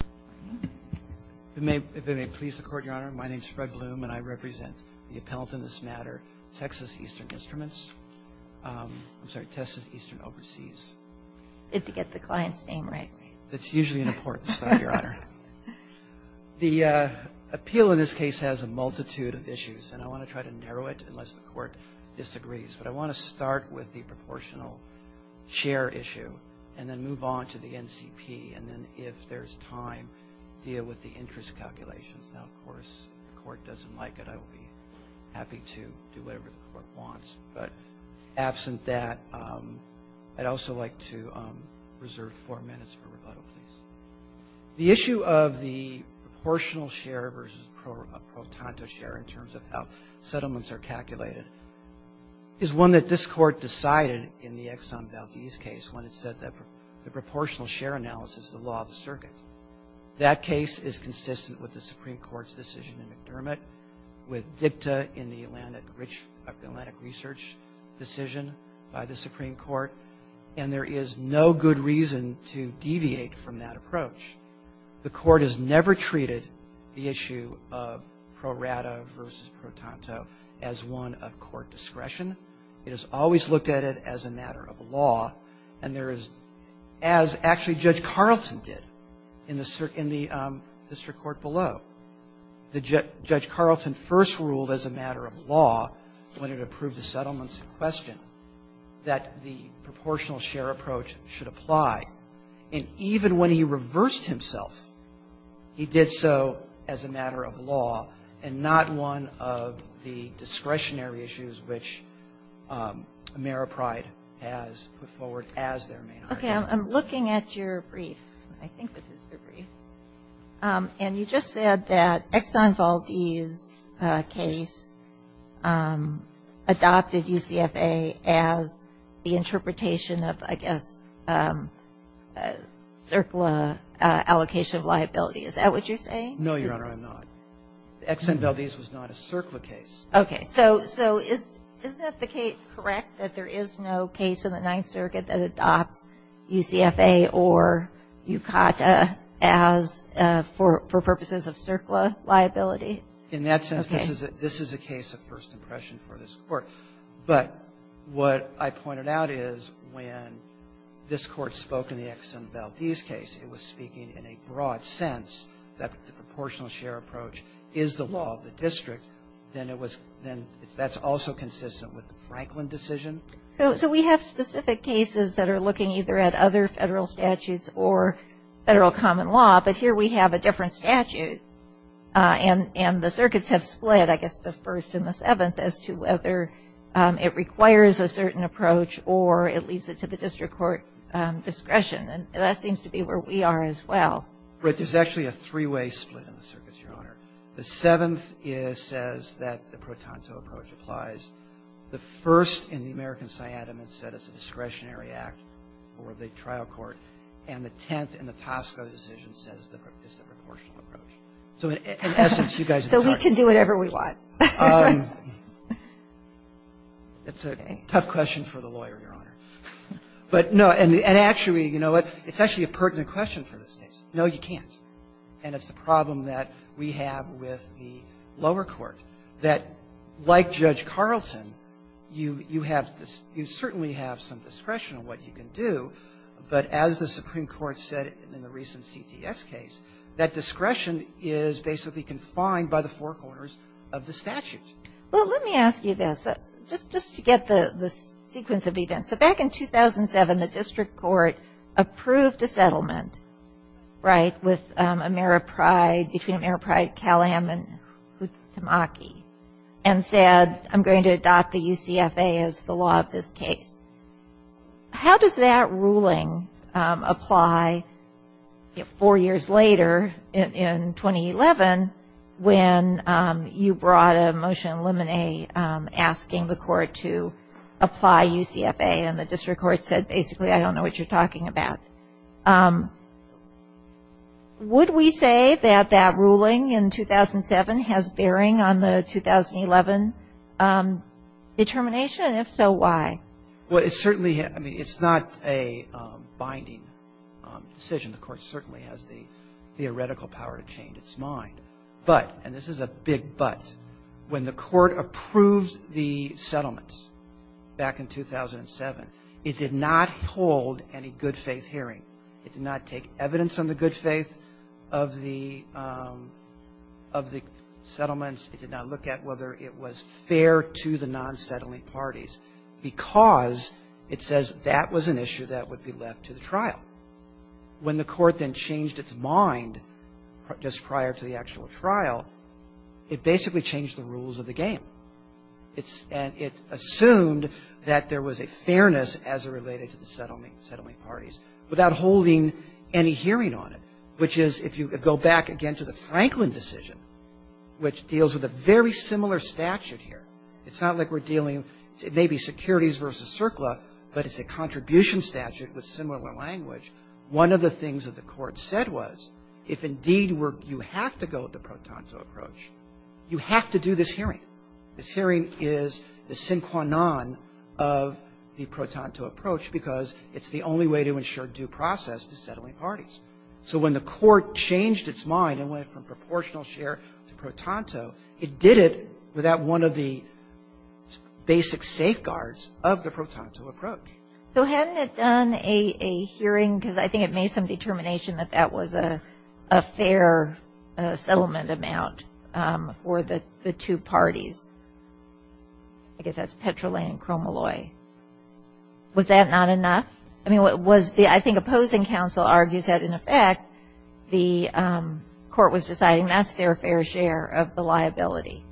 If it may please the Court, Your Honor, my name is Fred Bloom and I represent the appellant in this matter, Texas Eastern Instruments. I'm sorry, Texas Eastern Overseas. If you get the client's name right. That's usually an important start, Your Honor. The appeal in this case has a multitude of issues and I want to try to narrow it unless the Court disagrees, but I want to start with the proportional share issue and then move on to the NCP and then, if there's time, deal with the interest calculations. Now, of course, if the Court doesn't like it, I will be happy to do whatever the Court wants, but absent that, I'd also like to reserve four minutes for rebuttal, please. The issue of the proportional share versus pro tanto share in terms of how settlements are calculated is one that this Court decided in the Exxon Valdez case when it said that the proportional share analysis is the law of the circuit. That case is consistent with the Supreme Court's decision in McDermott, with DIPTA in the Atlantic Research decision by the Supreme Court, and there is no good reason to deviate from that approach. The Court has never treated the issue of pro rata versus pro tanto as one of Court discretion. It has always looked at it as a matter of law, and there is, as actually Judge Carlton did in the district court below. Judge Carlton first ruled as a matter of law when it approved the settlements in question that the proportional share approach should apply, and even when he reversed himself, he did so as a matter of law and not one of the discretionary issues which Ameripride has put forward as their main argument. Okay. I'm looking at your brief. I think this is your brief. And you just said that Exxon Valdez case adopted UCFA as the interpretation of, I guess, circular allocation of liability. Is that what you're saying? No, Your Honor, I'm not. Exxon Valdez was not a circular case. Okay. So is that correct, that there is no case in the Ninth Circuit that adopts UCFA or UCACA as, for purposes of circular liability? In that sense, this is a case of first impression for this Court. But what I pointed out is when this Court spoke in the Exxon Valdez case, it was speaking in a broad sense that the proportional share approach is the law of the district. Then it was then that's also consistent with the Franklin decision. So we have specific cases that are looking either at other Federal statutes or Federal common law, but here we have a different statute. And the circuits have split, I guess, the First and the Seventh, as to whether it requires a certain approach or it leads it to the district court discretion. And that seems to be where we are as well. Right. There's actually a three-way split in the circuits, Your Honor. The Seventh says that the pro tanto approach applies. The First in the American Cyanamid said it's a discretionary act for the trial court. And the Tenth in the Tosco decision says it's the proportional approach. So in essence, you guys are talking. So we can do whatever we want. It's a tough question for the lawyer, Your Honor. But no, and actually, you know what, it's actually a pertinent question for this case. No, you can't. And it's the problem that we have with the lower court, that like Judge Carleton, you have this you certainly have some discretion on what you can do, but as the Supreme Court said in the recent CTS case, that discretion is basically confined by the Federal Court and the four corners of the statute. Well, let me ask you this, just to get the sequence of events. So back in 2007, the district court approved a settlement, right, with Ameripride, between Ameripride, Cal-Am, and Futamaki, and said I'm going to adopt the UCFA as the law of this case. How does that ruling apply four years later in 2011 when the court said basically I don't know what you're talking about? Would we say that that ruling in 2007 has bearing on the 2011 determination? And if so, why? Well, it certainly, I mean, it's not a binding decision. The court certainly has the theoretical power to change its mind. But, and this is a big but, when the court approved the settlements back in 2007, it did not hold any good-faith hearing. It did not take evidence on the good faith of the of the settlements. It did not look at whether it was fair to the non-settling parties because it says that was an issue that would be left to the trial. When the court then changed its mind just prior to the actual trial, it basically changed the rules of the game. It's, and it assumed that there was a fairness as it related to the settlement parties without holding any hearing on it, which is, if you go back again to the Franklin decision, which deals with a very similar statute here, it's not like we're dealing, it may be securities versus CERCLA, but it's a contribution statute with similar language. One of the things that the Court said was, if indeed you have to go with the pro tanto approach, you have to do this hearing. This hearing is the sin quanon of the pro tanto approach because it's the only way to ensure due process to settling parties. So when the Court changed its mind and went from proportional share to pro tanto, it did it without one of the basic safeguards of the pro tanto approach. So hadn't it done a hearing, because I think it made some determination that that was a fair settlement amount for the two parties? I guess that's Petrolay and Cromalloy. Was that not enough? I mean, was the, I think opposing counsel argues that, in effect, the Court was deciding that's their fair share of the liability.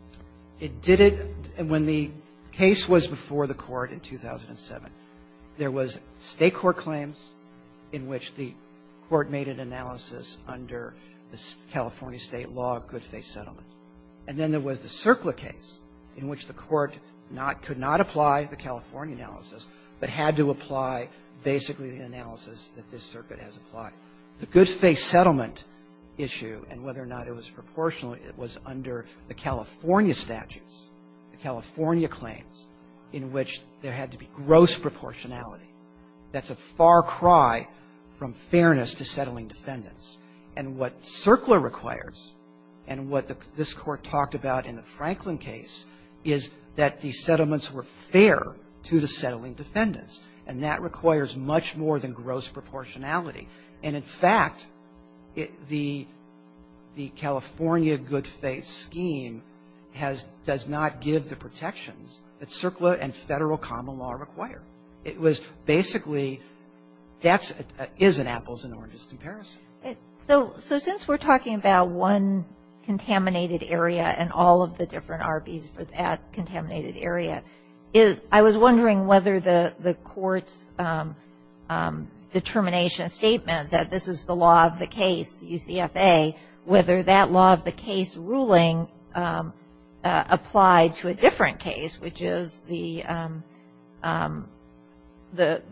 It did it, and when the case was before the Court in 2007, there was State court claims in which the Court made an analysis under the California State law of good faith settlement. And then there was the CERCLA case in which the Court not, could not apply the California analysis, but had to apply basically the analysis that this circuit has applied. The good faith settlement issue, and whether or not it was proportional, it was under the California statutes, the California claims, in which there had to be gross proportionality. That's a far cry from fairness to settling defendants. And what CERCLA requires, and what this Court talked about in the Franklin case, is that the settlements were fair to the settling defendants. And that requires much more than gross proportionality. And, in fact, it, the, the California good faith scheme has, does not give the protections that CERCLA and Federal common law require. It was basically, that's, is an apples-and-oranges comparison. So, so since we're talking about one contaminated area and all of the different RBs for that contaminated area, is, I was wondering whether the, the Court's determination statement that this is the law of the case, the UCFA, whether that law of the case ruling applied to a different case, which is the, the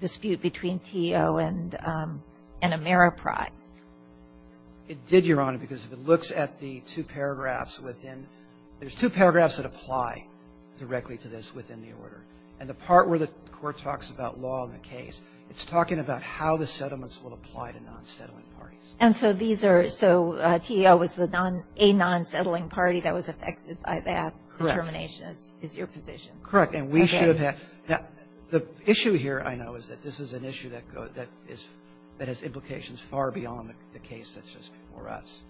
dispute between TEO and, and Ameriprise. It did, Your Honor, because if it looks at the two paragraphs within, there's two paragraphs that apply directly to this within the order. And the part where the Court talks about law in the case, it's talking about how the settlements will apply to non-settlement parties. And so these are, so TEO was the non, a non-settling party that was affected by that determination is, is your position. Correct. And we should have, the issue here, I know, is that this is an issue that, that is, that has implications far beyond the case that's just before us.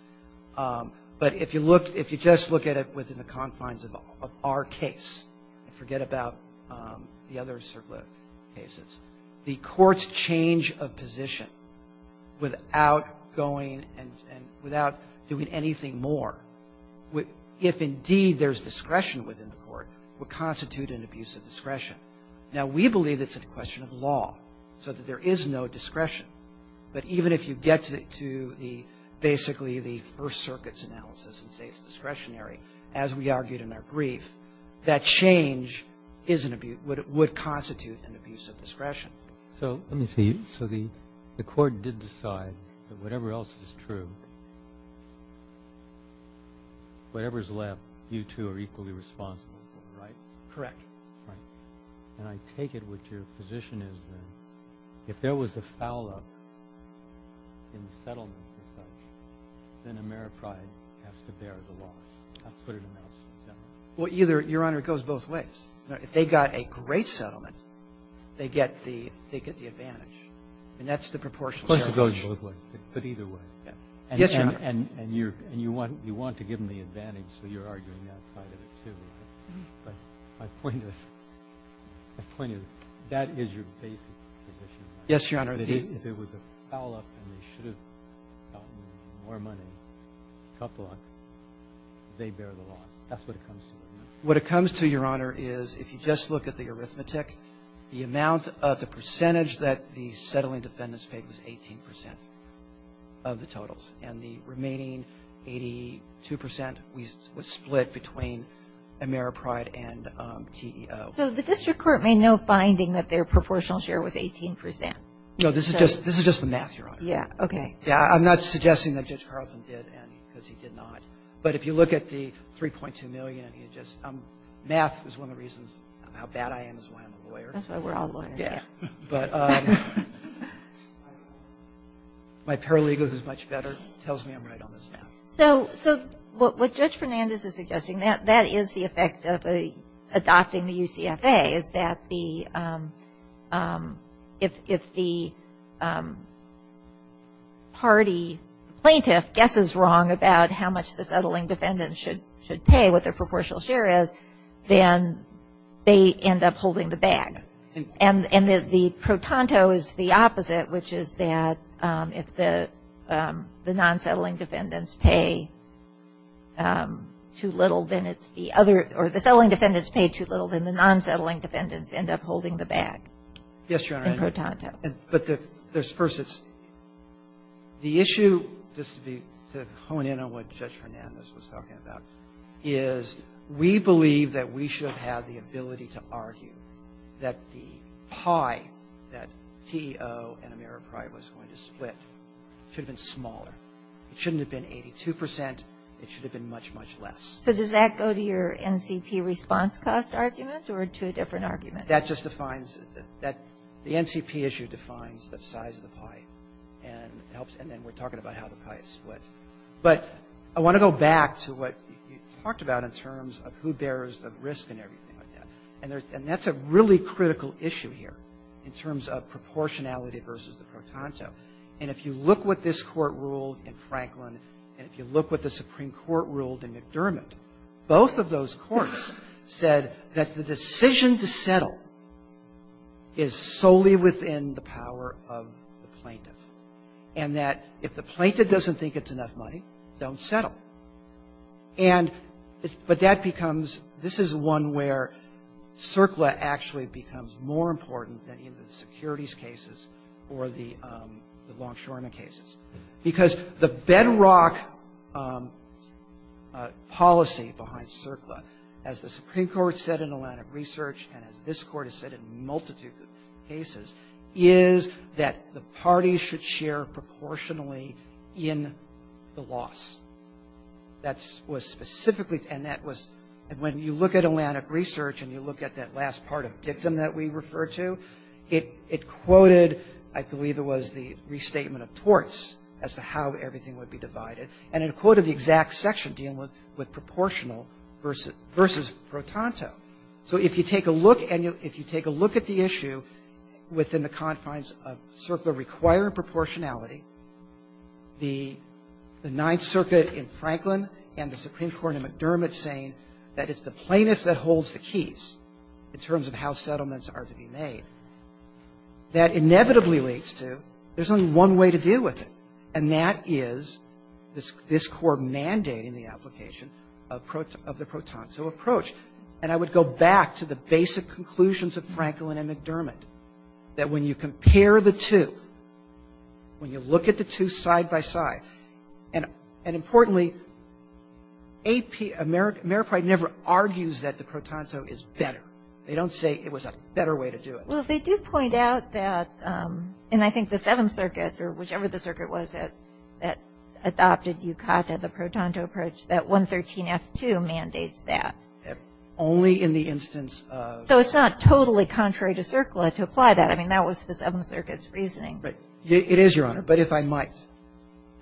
But if you look, if you just look at it within the confines of our case, and forget about the other circular cases, the Court's change of position without going and, and without doing anything more, if indeed there's discretion within the Court, would constitute an abuse of discretion. Now, we believe it's a question of law, so that there is no discretion. But even if you get to the, basically the First Amendment, that is an abuse, would constitute an abuse of discretion. So let me see. So the, the Court did decide that whatever else is true, whatever is left, you two are equally responsible for, right? Correct. Right. And I take it what your position is then, if there was a foul-up in the settlements as such, then Ameripride has to bear the loss. That's what it amounts to, is that right? Well, either, Your Honor, it goes both ways. If they got a great settlement, they get the, they get the advantage. And that's the proportionality. It goes both ways, but either way. Yes, Your Honor. And you're, and you want, you want to give them the advantage, so you're arguing that side of it, too, right? But my point is, my point is, that is your basic position. Yes, Your Honor. If there was a foul-up and they should have gotten more money, a couple of them, they bear the loss. That's what it comes to. What it comes to, Your Honor, is if you just look at the arithmetic, the amount of the percentage that the settling defendants paid was 18 percent of the totals. And the remaining 82 percent was split between Ameripride and TEO. So the district court made no finding that their proportional share was 18 percent. No, this is just, this is just the math, Your Honor. Yeah. Okay. Yeah, I'm not suggesting that Judge Carlson did any, because he did not. But if you look at the 3.2 million, and you just, math is one of the reasons how bad I am is why I'm a lawyer. That's why we're all lawyers, yeah. But my paralegal, who's much better, tells me I'm right on this math. So what Judge Fernandez is suggesting, that is the effect of adopting the UCFA, is that if the party plaintiff guesses wrong about how much the settling defendants should pay, what their proportional share is, then they end up holding the bag. And the protonto is the opposite, which is that if the non-settling defendants pay too little, then it's the other, or the settling defendants pay too little, then the non-settling defendants end up holding the bag. Yes, Your Honor. In protonto. But there's, first it's, the issue, just to be, to hone in on what Judge Fernandez was talking about, is we believe that we should have had the ability to argue that the pie that TEO and Ameripri was going to split should have been smaller. It shouldn't have been 82 percent. It should have been much, much less. So does that go to your NCP response cost argument or to a different argument? That just defines, the NCP issue defines the size of the pie and helps, and then we're talking about how the pie is split. But I want to go back to what you talked about in terms of who bears the risk and everything like that. And that's a really critical issue here in terms of proportionality versus the protonto. And if you look what this Court ruled in Franklin, and if you look what the Supreme Court ruled in McDermott, both of those courts said that the decision to settle is solely within the power of the plaintiff, and that if the plaintiff doesn't think it's enough money, don't settle. And, but that becomes, this is one where CERCLA actually becomes more important than either the securities cases or the longshoremen cases, because the bedrock policy behind CERCLA, as the Supreme Court said in Atlantic Research and as this Court has said in a multitude of cases, is that the parties should share proportionally in the loss. That was specifically, and that was, and when you look at Atlantic Research and you look at that last part of dictum that we referred to, it quoted, I believe it was the restatement of torts as to how everything would be divided, and it quoted the exact section dealing with proportional versus protonto. So if you take a look and you, if you take a look at the issue within the confines of CERCLA requiring proportionality, the Ninth Circuit in Franklin and the Supreme Court in McDermott saying that it's the plaintiff that holds the keys in terms of how to deal with it, and that is this Court mandating the application of the protonto approach. And I would go back to the basic conclusions of Franklin and McDermott, that when you compare the two, when you look at the two side by side, and importantly, Ameriprise never argues that the protonto is better. They don't say it was a better way to do it. Well, they do point out that, and I think the Seventh Circuit or whichever the circuit was that adopted UCATA, the protonto approach, that 113F2 mandates that. Only in the instance of. So it's not totally contrary to CERCLA to apply that. I mean, that was the Seventh Circuit's reasoning. It is, Your Honor, but if I might.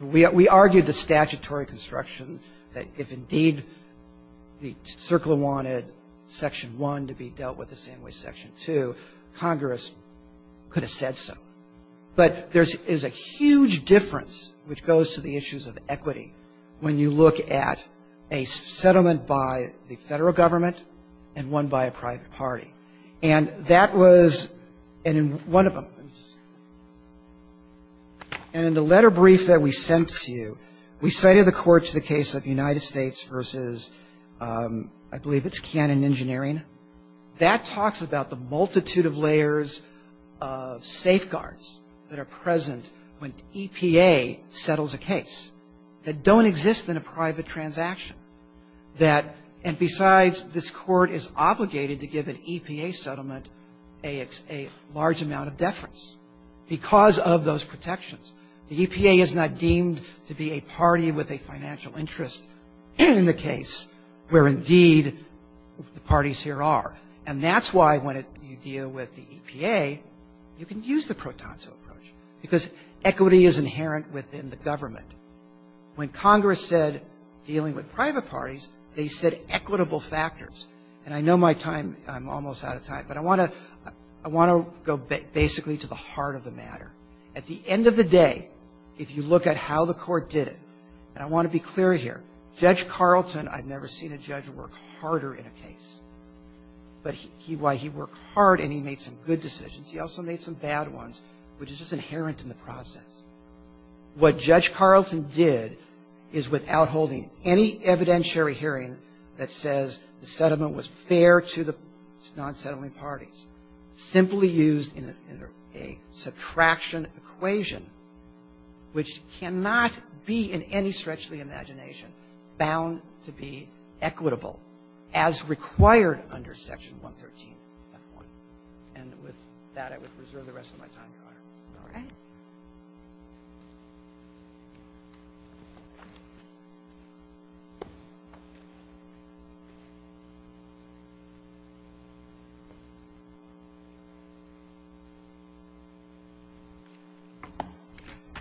We argued the statutory construction that if indeed the CERCLA wanted Section 1 to be in Congress, it could have said so. But there is a huge difference which goes to the issues of equity when you look at a settlement by the Federal Government and one by a private party. And that was, and in one of them, and in the letter brief that we sent to you, we cited the court to the case of United States versus, I believe it's Cannon Engineering. And that talks about the multitude of layers of safeguards that are present when EPA settles a case that don't exist in a private transaction, that, and besides, this court is obligated to give an EPA settlement a large amount of deference because of those protections. The EPA is not deemed to be a party with a financial interest in the case where indeed the parties here are. And that's why when you deal with the EPA, you can use the pro tonso approach because equity is inherent within the government. When Congress said dealing with private parties, they said equitable factors. And I know my time, I'm almost out of time, but I want to go basically to the heart of the matter. At the end of the day, if you look at how the Court did it, and I want to be clear here, Judge Carlton, I've never seen a judge work harder in a case. But he worked hard and he made some good decisions. He also made some bad ones, which is just inherent in the process. What Judge Carlton did is without holding any evidentiary hearing that says the settlement was fair to the non-settling parties, simply used a subtraction equation which cannot be in any stretch of the imagination bound to be equitable as required under Section 113.1. And with that, I would reserve the rest of my time, Your Honor. All right.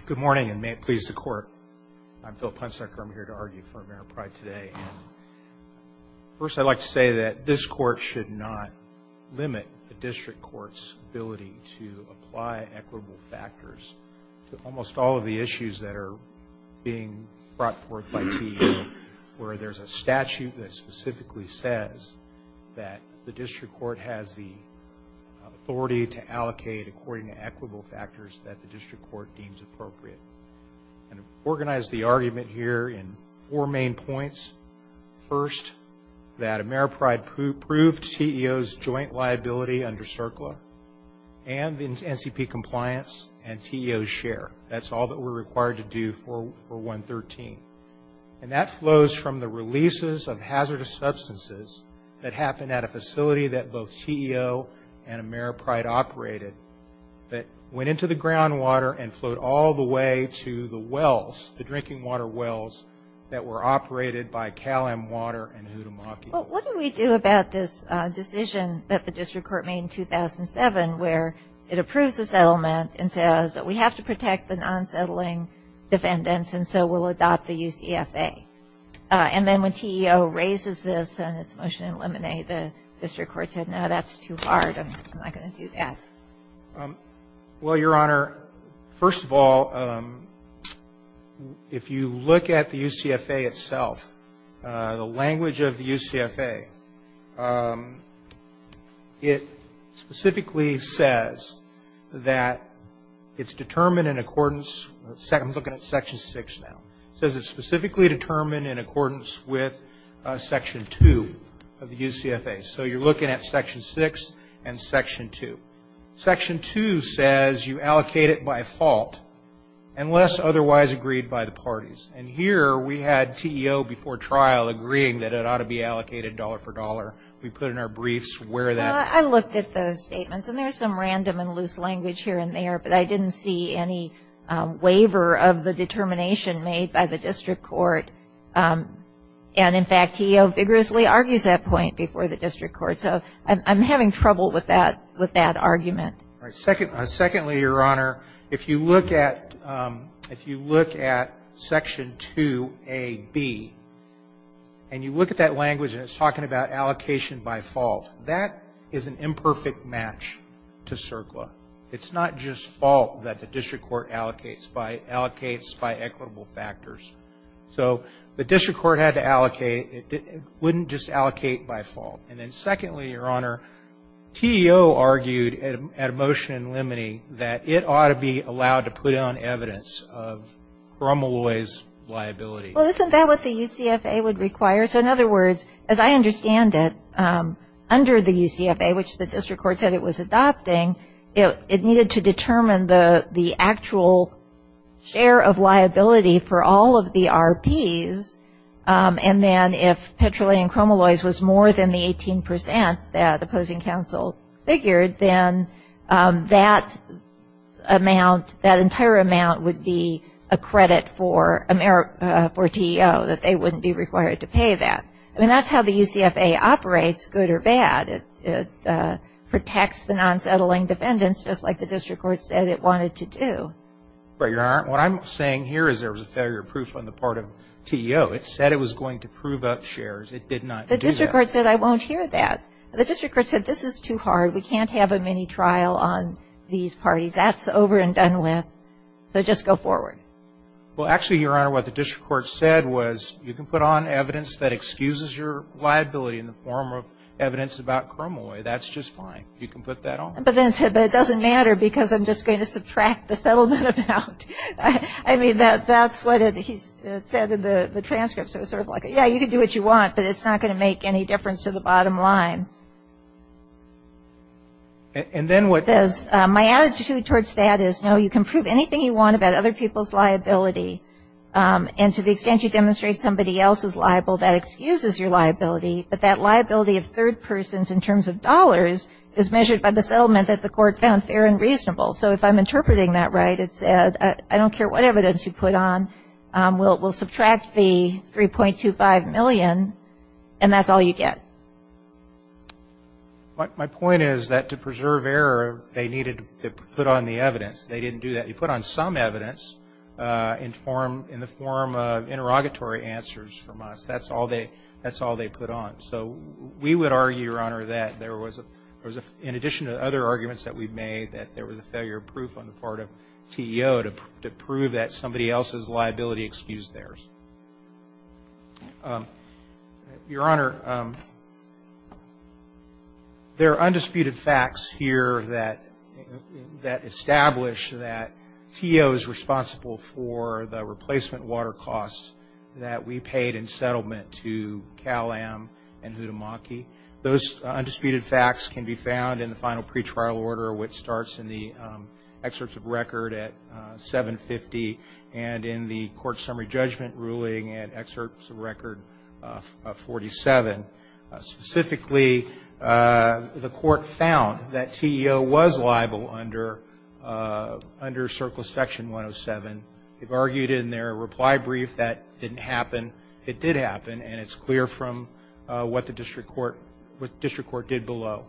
Good morning, and may it please the Court. I'm Phil Punsacker. I'm here to argue for Mayor Pryde today. First, I'd like to say that this Court should not limit the district court's ability to apply equitable factors to almost all of the issues that are being brought forth by TEO, where there's a statute that specifically says that the district court has the authority to allocate according to equitable factors that the district court deems appropriate. And organize the argument here in four main points. First, that Mayor Pryde proved TEO's joint liability under CERCLA and the NCP compliance and TEO's share. That's all that we're required to do for 113. And that flows from the releases of hazardous substances that happened at a facility that both TEO and Mayor Pryde operated that went into the groundwater and flowed all the way to the wells, the drinking water wells, that were operated by Cal-Am Water and Hudamaki. Well, what do we do about this decision that the district court made in 2007 where it approves the settlement and says, but we have to protect the non-settling defendants and so we'll adopt the UCFA? And then when TEO raises this and its motion to eliminate, the district court said, no, that's too hard. I'm not going to do that. Well, Your Honor, first of all, if you look at the UCFA itself, the language of the UCFA, it specifically says that it's determined in accordance, I'm looking at Section 6 now, it says it's specifically determined in accordance with Section 2 of the UCFA. So you're looking at Section 6 and Section 2. Section 2 says you allocate it by fault unless otherwise agreed by the parties. And here we had TEO before trial agreeing that it ought to be allocated dollar for dollar. We put in our briefs where that was. Well, I looked at those statements, and there's some random and loose language here and there, but I didn't see any waiver of the determination made by the district court. And, in fact, TEO vigorously argues that point before the district court. So I'm having trouble with that argument. Secondly, Your Honor, if you look at Section 2a)(b), and you look at that language and it's talking about allocation by fault, that is an imperfect match to CERCLA. It's not just fault that the district court allocates by equitable factors. So the district court had to allocate. It wouldn't just allocate by fault. And then, secondly, Your Honor, TEO argued at a motion in limine that it ought to be allowed to put on evidence of Cromwell-Loy's liability. Well, isn't that what the UCFA would require? So, in other words, as I understand it, under the UCFA, which the district court said it was adopting, it needed to determine the actual share of liability for all of the RPs. And then if Petroleum Cromwell-Loy's was more than the 18 percent that opposing counsel figured, then that amount, that entire amount, would be a credit for TEO, that they wouldn't be required to pay that. I mean, that's how the UCFA operates, good or bad. It protects the non-settling defendants, just like the district court said it wanted to do. But, Your Honor, what I'm saying here is there was a failure of proof on the part of TEO. It said it was going to prove up shares. It did not do that. The district court said, I won't hear that. The district court said, this is too hard. We can't have a mini-trial on these parties. That's over and done with. So just go forward. Well, actually, Your Honor, what the district court said was, you can put on evidence that excuses your liability in the form of evidence about Cromwell-Loy. That's just fine. You can put that on. But then it said, but it doesn't matter because I'm just going to subtract the settlement amount. I mean, that's what it said in the transcript. So it's sort of like, yeah, you can do what you want, but it's not going to make any difference to the bottom line. And then what? My attitude towards that is, no, you can prove anything you want about other people's liability. And to the extent you demonstrate somebody else is liable, that excuses your liability. But that liability of third persons in terms of dollars is measured by the settlement that the court found fair and reasonable. So if I'm interpreting that right, it said, I don't care what evidence you put on. We'll subtract the $3.25 million, and that's all you get. My point is that to preserve error, they needed to put on the evidence. They didn't do that. They put on some evidence in the form of interrogatory answers from us. That's all they put on. So we would argue, Your Honor, that there was, in addition to other arguments that we've made, that there was a failure of proof on the part of TEO to prove that somebody else's liability excused theirs. Your Honor, there are undisputed facts here that establish that TEO is responsible for the replacement water costs that we paid in settlement to Cal-Am and Hudimaki. Those undisputed facts can be found in the final pretrial order, which starts in the excerpts of record at 750, and in the court summary judgment ruling at excerpts of record 47. Specifically, the court found that TEO was liable under CERCLA section 107. They've argued in their reply brief that it didn't happen. It did happen, and it's clear from what the district court did below.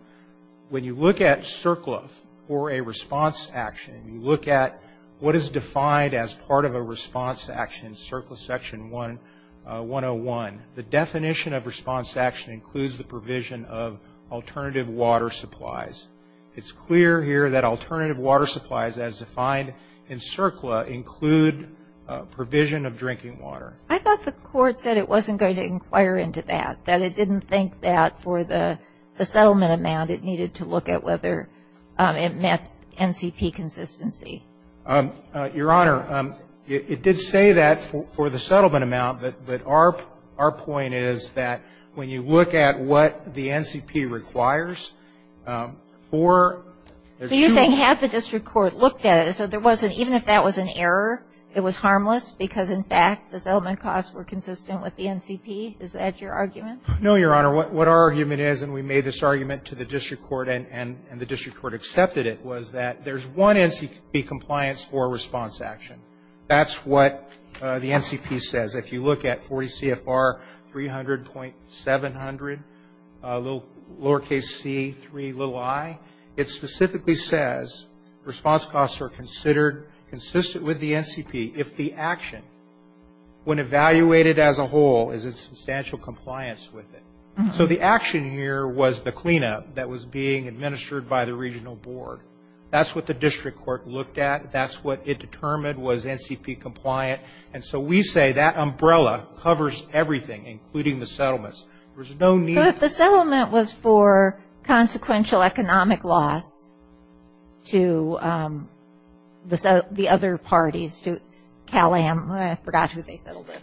When you look at CERCLA for a response action, you look at what is defined as part of a response action, CERCLA section 101. The definition of response action includes the provision of alternative water supplies. It's clear here that alternative water supplies, as defined in CERCLA, include provision of drinking water. I thought the court said it wasn't going to inquire into that. That it didn't think that for the settlement amount it needed to look at whether it met NCP consistency. Your Honor, it did say that for the settlement amount, but our point is that when you look at what the NCP requires for the two of them. So you're saying had the district court looked at it, so there wasn't, even if that was an error, it was harmless because, in fact, the settlement costs were consistent with the NCP? Is that your argument? No, Your Honor. What our argument is, and we made this argument to the district court and the district court accepted it, was that there's one NCP compliance for a response action. That's what the NCP says. If you look at 40 CFR 300.700, lowercase c, 3, little i, it specifically says response costs are considered consistent with the NCP if the action, when evaluated as a whole, is in substantial compliance with it. So the action here was the cleanup that was being administered by the regional board. That's what the district court looked at. That's what it determined was NCP compliant. And so we say that umbrella covers everything, including the settlements. There's no need. So if the settlement was for consequential economic loss to the other parties, to Cal-Am, I forgot who they settled with,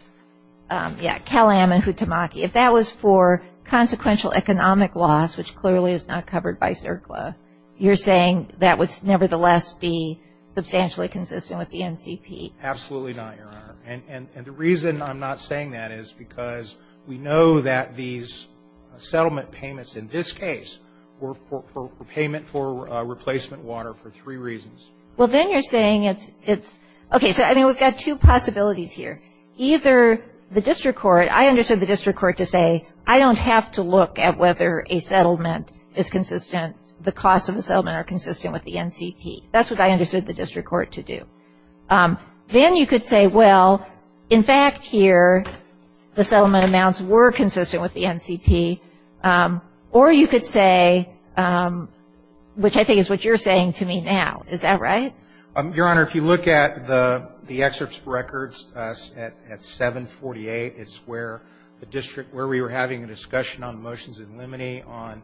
yeah, Cal-Am and Futamaki, if that was for consequential economic loss, which clearly is not covered by CERCLA, you're saying that would nevertheless be substantially consistent with the NCP? Absolutely not, Your Honor. And the reason I'm not saying that is because we know that these settlement payments, in this case, were payment for replacement water for three reasons. Well, then you're saying it's, okay, so, I mean, we've got two possibilities here. Either the district court, I understood the district court to say, I don't have to look at whether a settlement is consistent, the costs of the settlement are consistent with the NCP. That's what I understood the district court to do. Then you could say, well, in fact, here, the settlement amounts were consistent with the NCP. Or you could say, which I think is what you're saying to me now, is that right? Your Honor, if you look at the excerpts of records at 748, it's where we were having a discussion on motions in limine on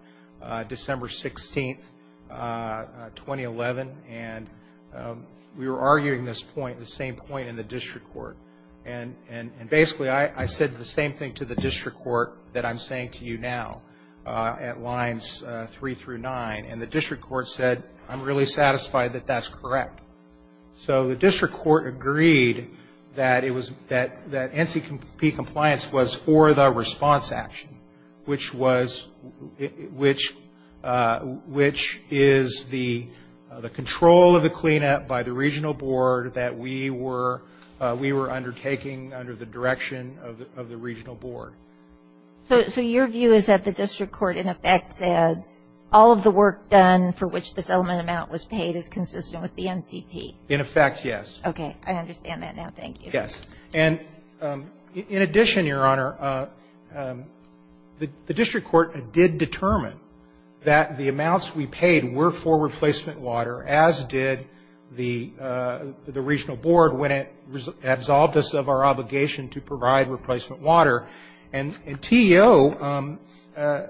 December 16th, 2011. And we were arguing this point, the same point in the district court. And basically, I said the same thing to the district court that I'm saying to you now at lines three through nine. And the district court said, I'm really satisfied that that's correct. So the district court agreed that it was, that NCP compliance was for the response action, which was, which is the control of the cleanup by the regional board that we were, we were undertaking under the direction of the regional board. So your view is that the district court, in effect, said all of the work done for which the settlement amount was paid is consistent with the NCP? In effect, yes. Okay. I understand that now. Thank you. Yes. And in addition, your Honor, the district court did determine that the amounts we paid were for replacement water, as did the regional board when it absolved us of our obligation to provide replacement water. And TEO, the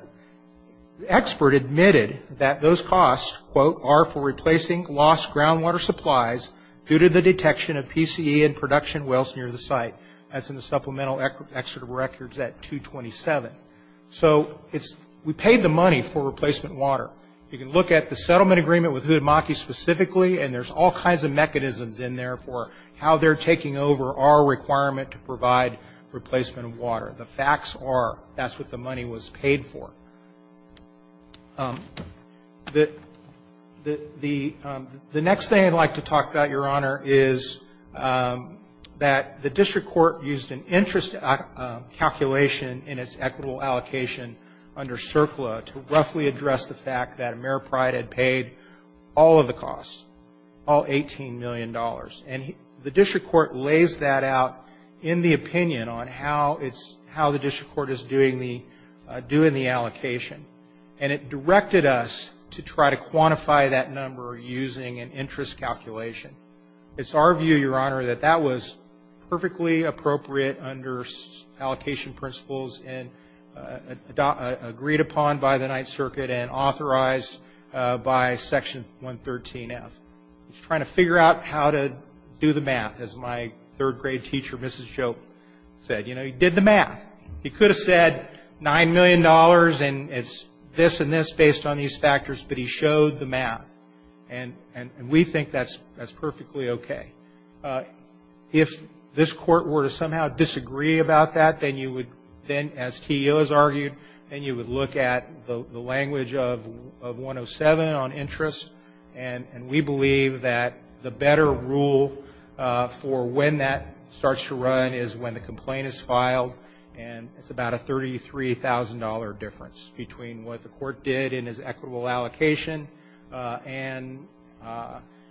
expert admitted that those costs, quote, are for replacing lost groundwater supplies due to the detection of PCE and production wells near the site, as in the supplemental excerpt of records at 227. So it's, we paid the money for replacement water. You can look at the settlement agreement with Udemaki specifically, and there's all kinds of mechanisms in there for how they're taking over our requirement to provide replacement water. The facts are that's what the money was paid for. The next thing I'd like to talk about, your Honor, is that the district court used an interest calculation in its equitable allocation under CERCLA to roughly address the fact that Mayor Pride had paid all of the costs, all $18 million. And the district court lays that out in the opinion on how it's, how the district court is doing the allocation. And it directed us to try to quantify that number using an interest calculation. It's our view, your Honor, that that was perfectly appropriate under allocation principles and agreed upon by the Ninth Circuit and authorized by Section 113F. It's trying to figure out how to do the math, as my third grade teacher, Mrs. Joe, said. You know, he did the math. He could have said $9 million and it's this and this based on these factors, but he showed the math. And we think that's perfectly okay. If this Court were to somehow disagree about that, then you would then, as T.U. has argued, then you would look at the language of 107 on interest. And we believe that the better rule for when that starts to run is when the complaint is filed. And it's about a $33,000 difference between what the court did in its equitable allocation and,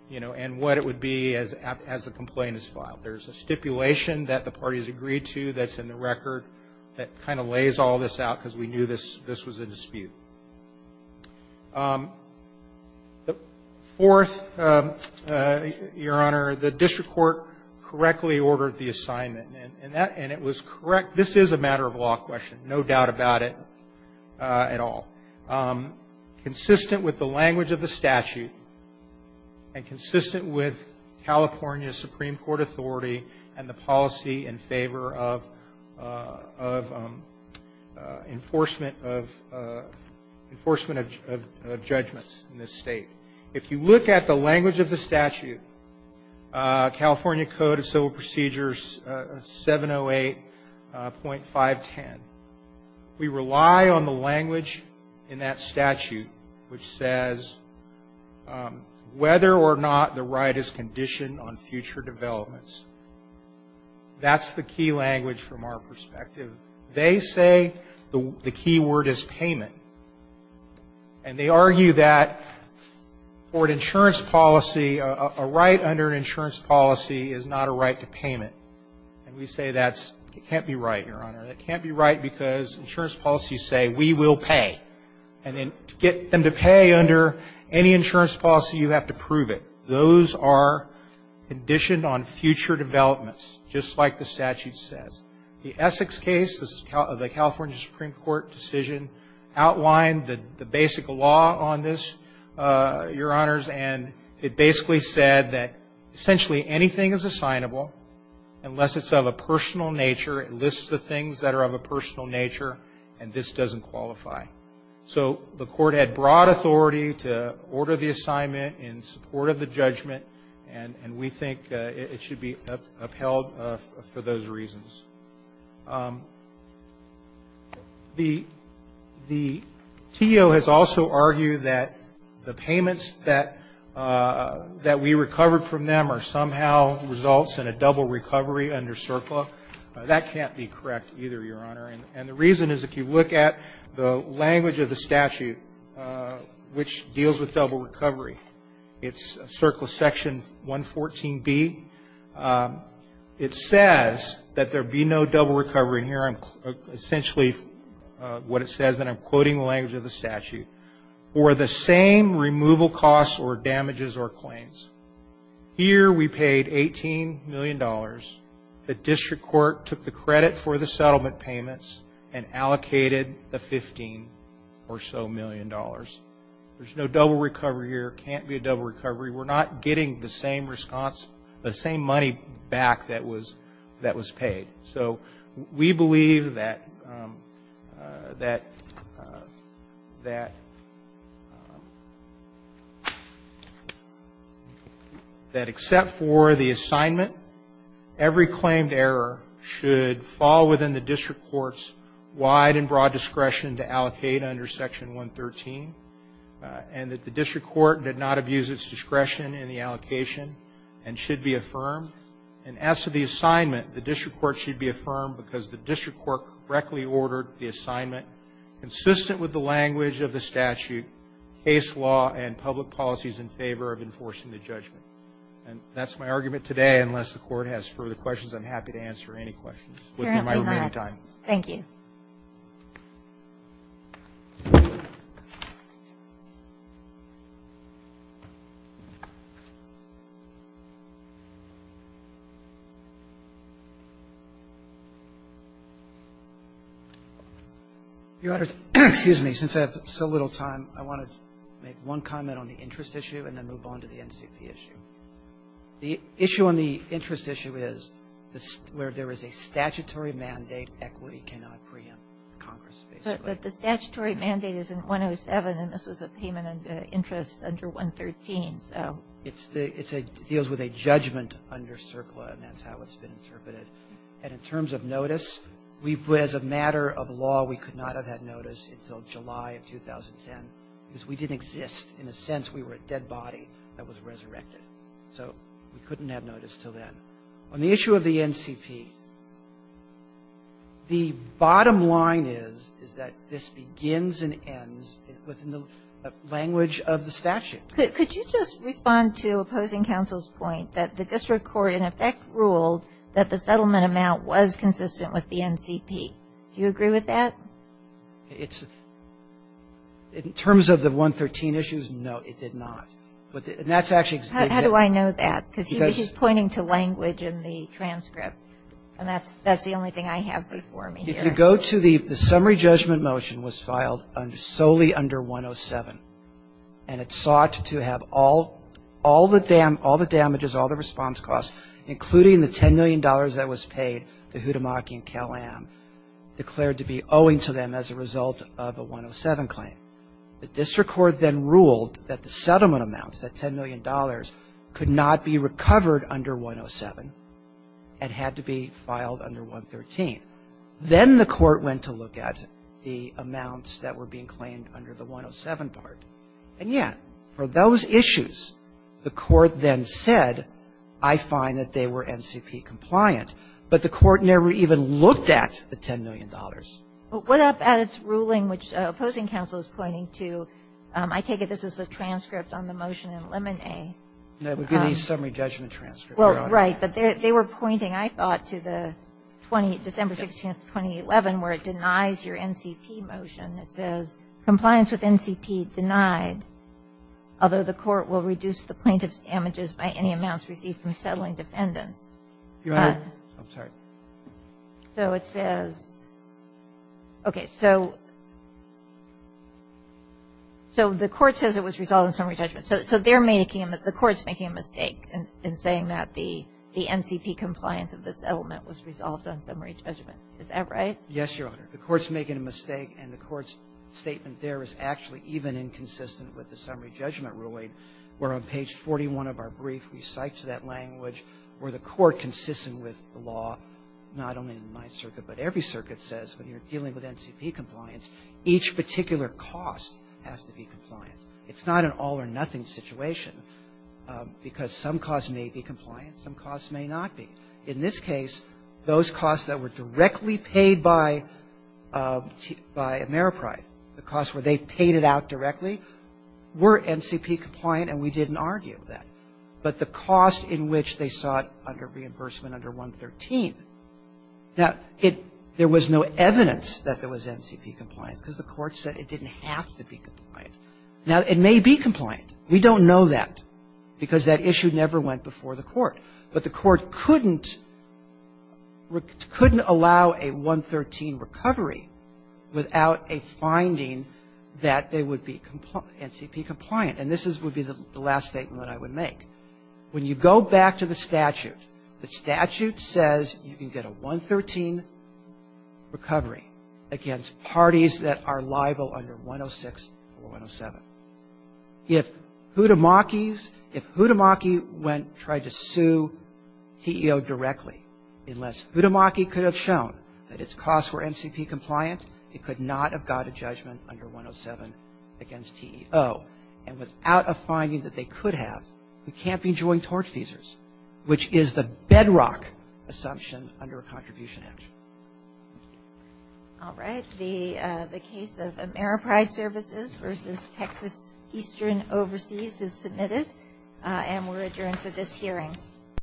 you know, and what it would be as the complaint is filed. There's a stipulation that the parties agreed to that's in the record that kind of lays all this out because we knew this was a dispute. Fourth, Your Honor, the district court correctly ordered the assignment. And it was correct. This is a matter of law question, no doubt about it at all. Consistent with the language of the statute and consistent with California's Supreme Court authority and the policy in favor of enforcement of judgments in this state. If you look at the language of the statute, California Code of Civil Procedures 708.510, we rely on the language in that statute which says whether or not the right is conditioned on future developments. That's the key language from our perspective. They say the key word is payment. And they argue that for an insurance policy, a right under an insurance policy is not a right to payment. And we say that can't be right, Your Honor. That can't be right because insurance policies say we will pay. And to get them to pay under any insurance policy, you have to prove it. Those are conditioned on future developments, just like the statute says. The Essex case, the California Supreme Court decision outlined the basic law on this, Your Honors, and it basically said that essentially anything is assignable unless it's of a personal nature, it lists the things that are of a personal nature, and this doesn't qualify. So the court had broad authority to order the assignment in support of the judgment, and we think it should be upheld for those reasons. The TO has also argued that the payments that we recovered from them are somehow results in a double recovery under CERCLA. That can't be correct either, Your Honor. And the reason is if you look at the language of the statute, which deals with double recovery, it's CERCLA Section 114B. It says that there be no double recovery. And here I'm essentially what it says, and I'm quoting the language of the statute. Or the same removal costs or damages or claims. Here we paid $18 million. The district court took the credit for the settlement payments and allocated the $15 or so million. There's no double recovery here. It can't be a double recovery. We're not getting the same response, the same money back that was paid. So we believe that except for the assignment, every claimed error should fall within the district court's wide and broad discretion to allocate under Section 113, and that the district court did not abuse its discretion in the allocation and should be affirmed. And as to the assignment, the district court should be affirmed because the district court correctly ordered the assignment consistent with the language of the statute, case law, and public policies in favor of enforcing the judgment. And that's my argument today. Unless the court has further questions, I'm happy to answer any questions within my remaining time. Thank you. Roberts. Excuse me. Since I have so little time, I want to make one comment on the interest issue and then move on to the NCP issue. The issue on the interest issue is where there is a statutory mandate, equity cannot preempt Congress, basically. But the statutory mandate is in 107, and this was a payment of interest under 113. It deals with a judgment under CERCLA, and that's how it's been interpreted. And in terms of notice, as a matter of law, we could not have had notice until July of 2010 because we didn't exist. In a sense, we were a dead body that was resurrected. So we couldn't have notice until then. On the issue of the NCP, the bottom line is, is that this begins and ends within the language of the statute. Could you just respond to opposing counsel's point that the district court in effect ruled that the settlement amount was consistent with the NCP? Do you agree with that? It's, in terms of the 113 issues, no, it did not. And that's actually. How do I know that? Because he's pointing to language in the transcript, and that's the only thing I have before me here. If you go to the summary judgment motion was filed solely under 107, and it sought to have all the damages, all the response costs, including the $10 million that was paid to Hudimaki and Cal-Am, declared to be owing to them as a result of a 107 claim. The district court then ruled that the settlement amounts, that $10 million, could not be recovered under 107 and had to be filed under 113. Then the court went to look at the amounts that were being claimed under the 107 part. And yet, for those issues, the court then said, I find that they were NCP compliant. But the court never even looked at the $10 million. But what about its ruling, which opposing counsel is pointing to? I take it this is a transcript on the motion in Lemon A. No, it would be the summary judgment transcript. Well, right. But they were pointing, I thought, to the December 16th, 2011, where it denies your NCP motion. It says, Compliance with NCP denied, although the court will reduce the plaintiff's damages by any amounts received from settling defendants. Your Honor. I'm sorry. So it says. Okay. So the court says it was resolved in summary judgment. So they're making, the court's making a mistake in saying that the NCP compliance of the settlement was resolved on summary judgment. Is that right? Yes, Your Honor. The court's making a mistake, and the court's statement there is actually even inconsistent with the summary judgment ruling, where on page 41 of our brief, we cite to that language where the court consistent with the law, not only in the Ninth Circuit, but every circuit says, when you're dealing with NCP compliance, each particular cost has to be compliant. It's not an all-or-nothing situation, because some costs may be compliant, some costs may not be. In this case, those costs that were directly paid by Ameripride, the costs where they paid it out directly, were NCP compliant, and we didn't argue with that. But the cost in which they saw it under reimbursement under 113, now, it, there was no evidence that there was NCP compliance, because the court said it didn't have to be compliant. Now, it may be compliant. We don't know that, because that issue never went before the court. But the court couldn't, couldn't allow a 113 recovery without a finding that the would be NCP compliant. And this is, would be the last statement that I would make. When you go back to the statute, the statute says you can get a 113 recovery against parties that are liable under 106 or 107. If Hudimaki's, if Hudimaki went, tried to sue TEO directly, unless Hudimaki could have shown that its costs were NCP compliant, it could not have got a judgment under 107 against TEO. And without a finding that they could have, we can't be joint torchfeasors, which is the bedrock assumption under a contribution action. All right. The case of Ameripride Services versus Texas Eastern Overseas is submitted, and we're adjourned for this hearing.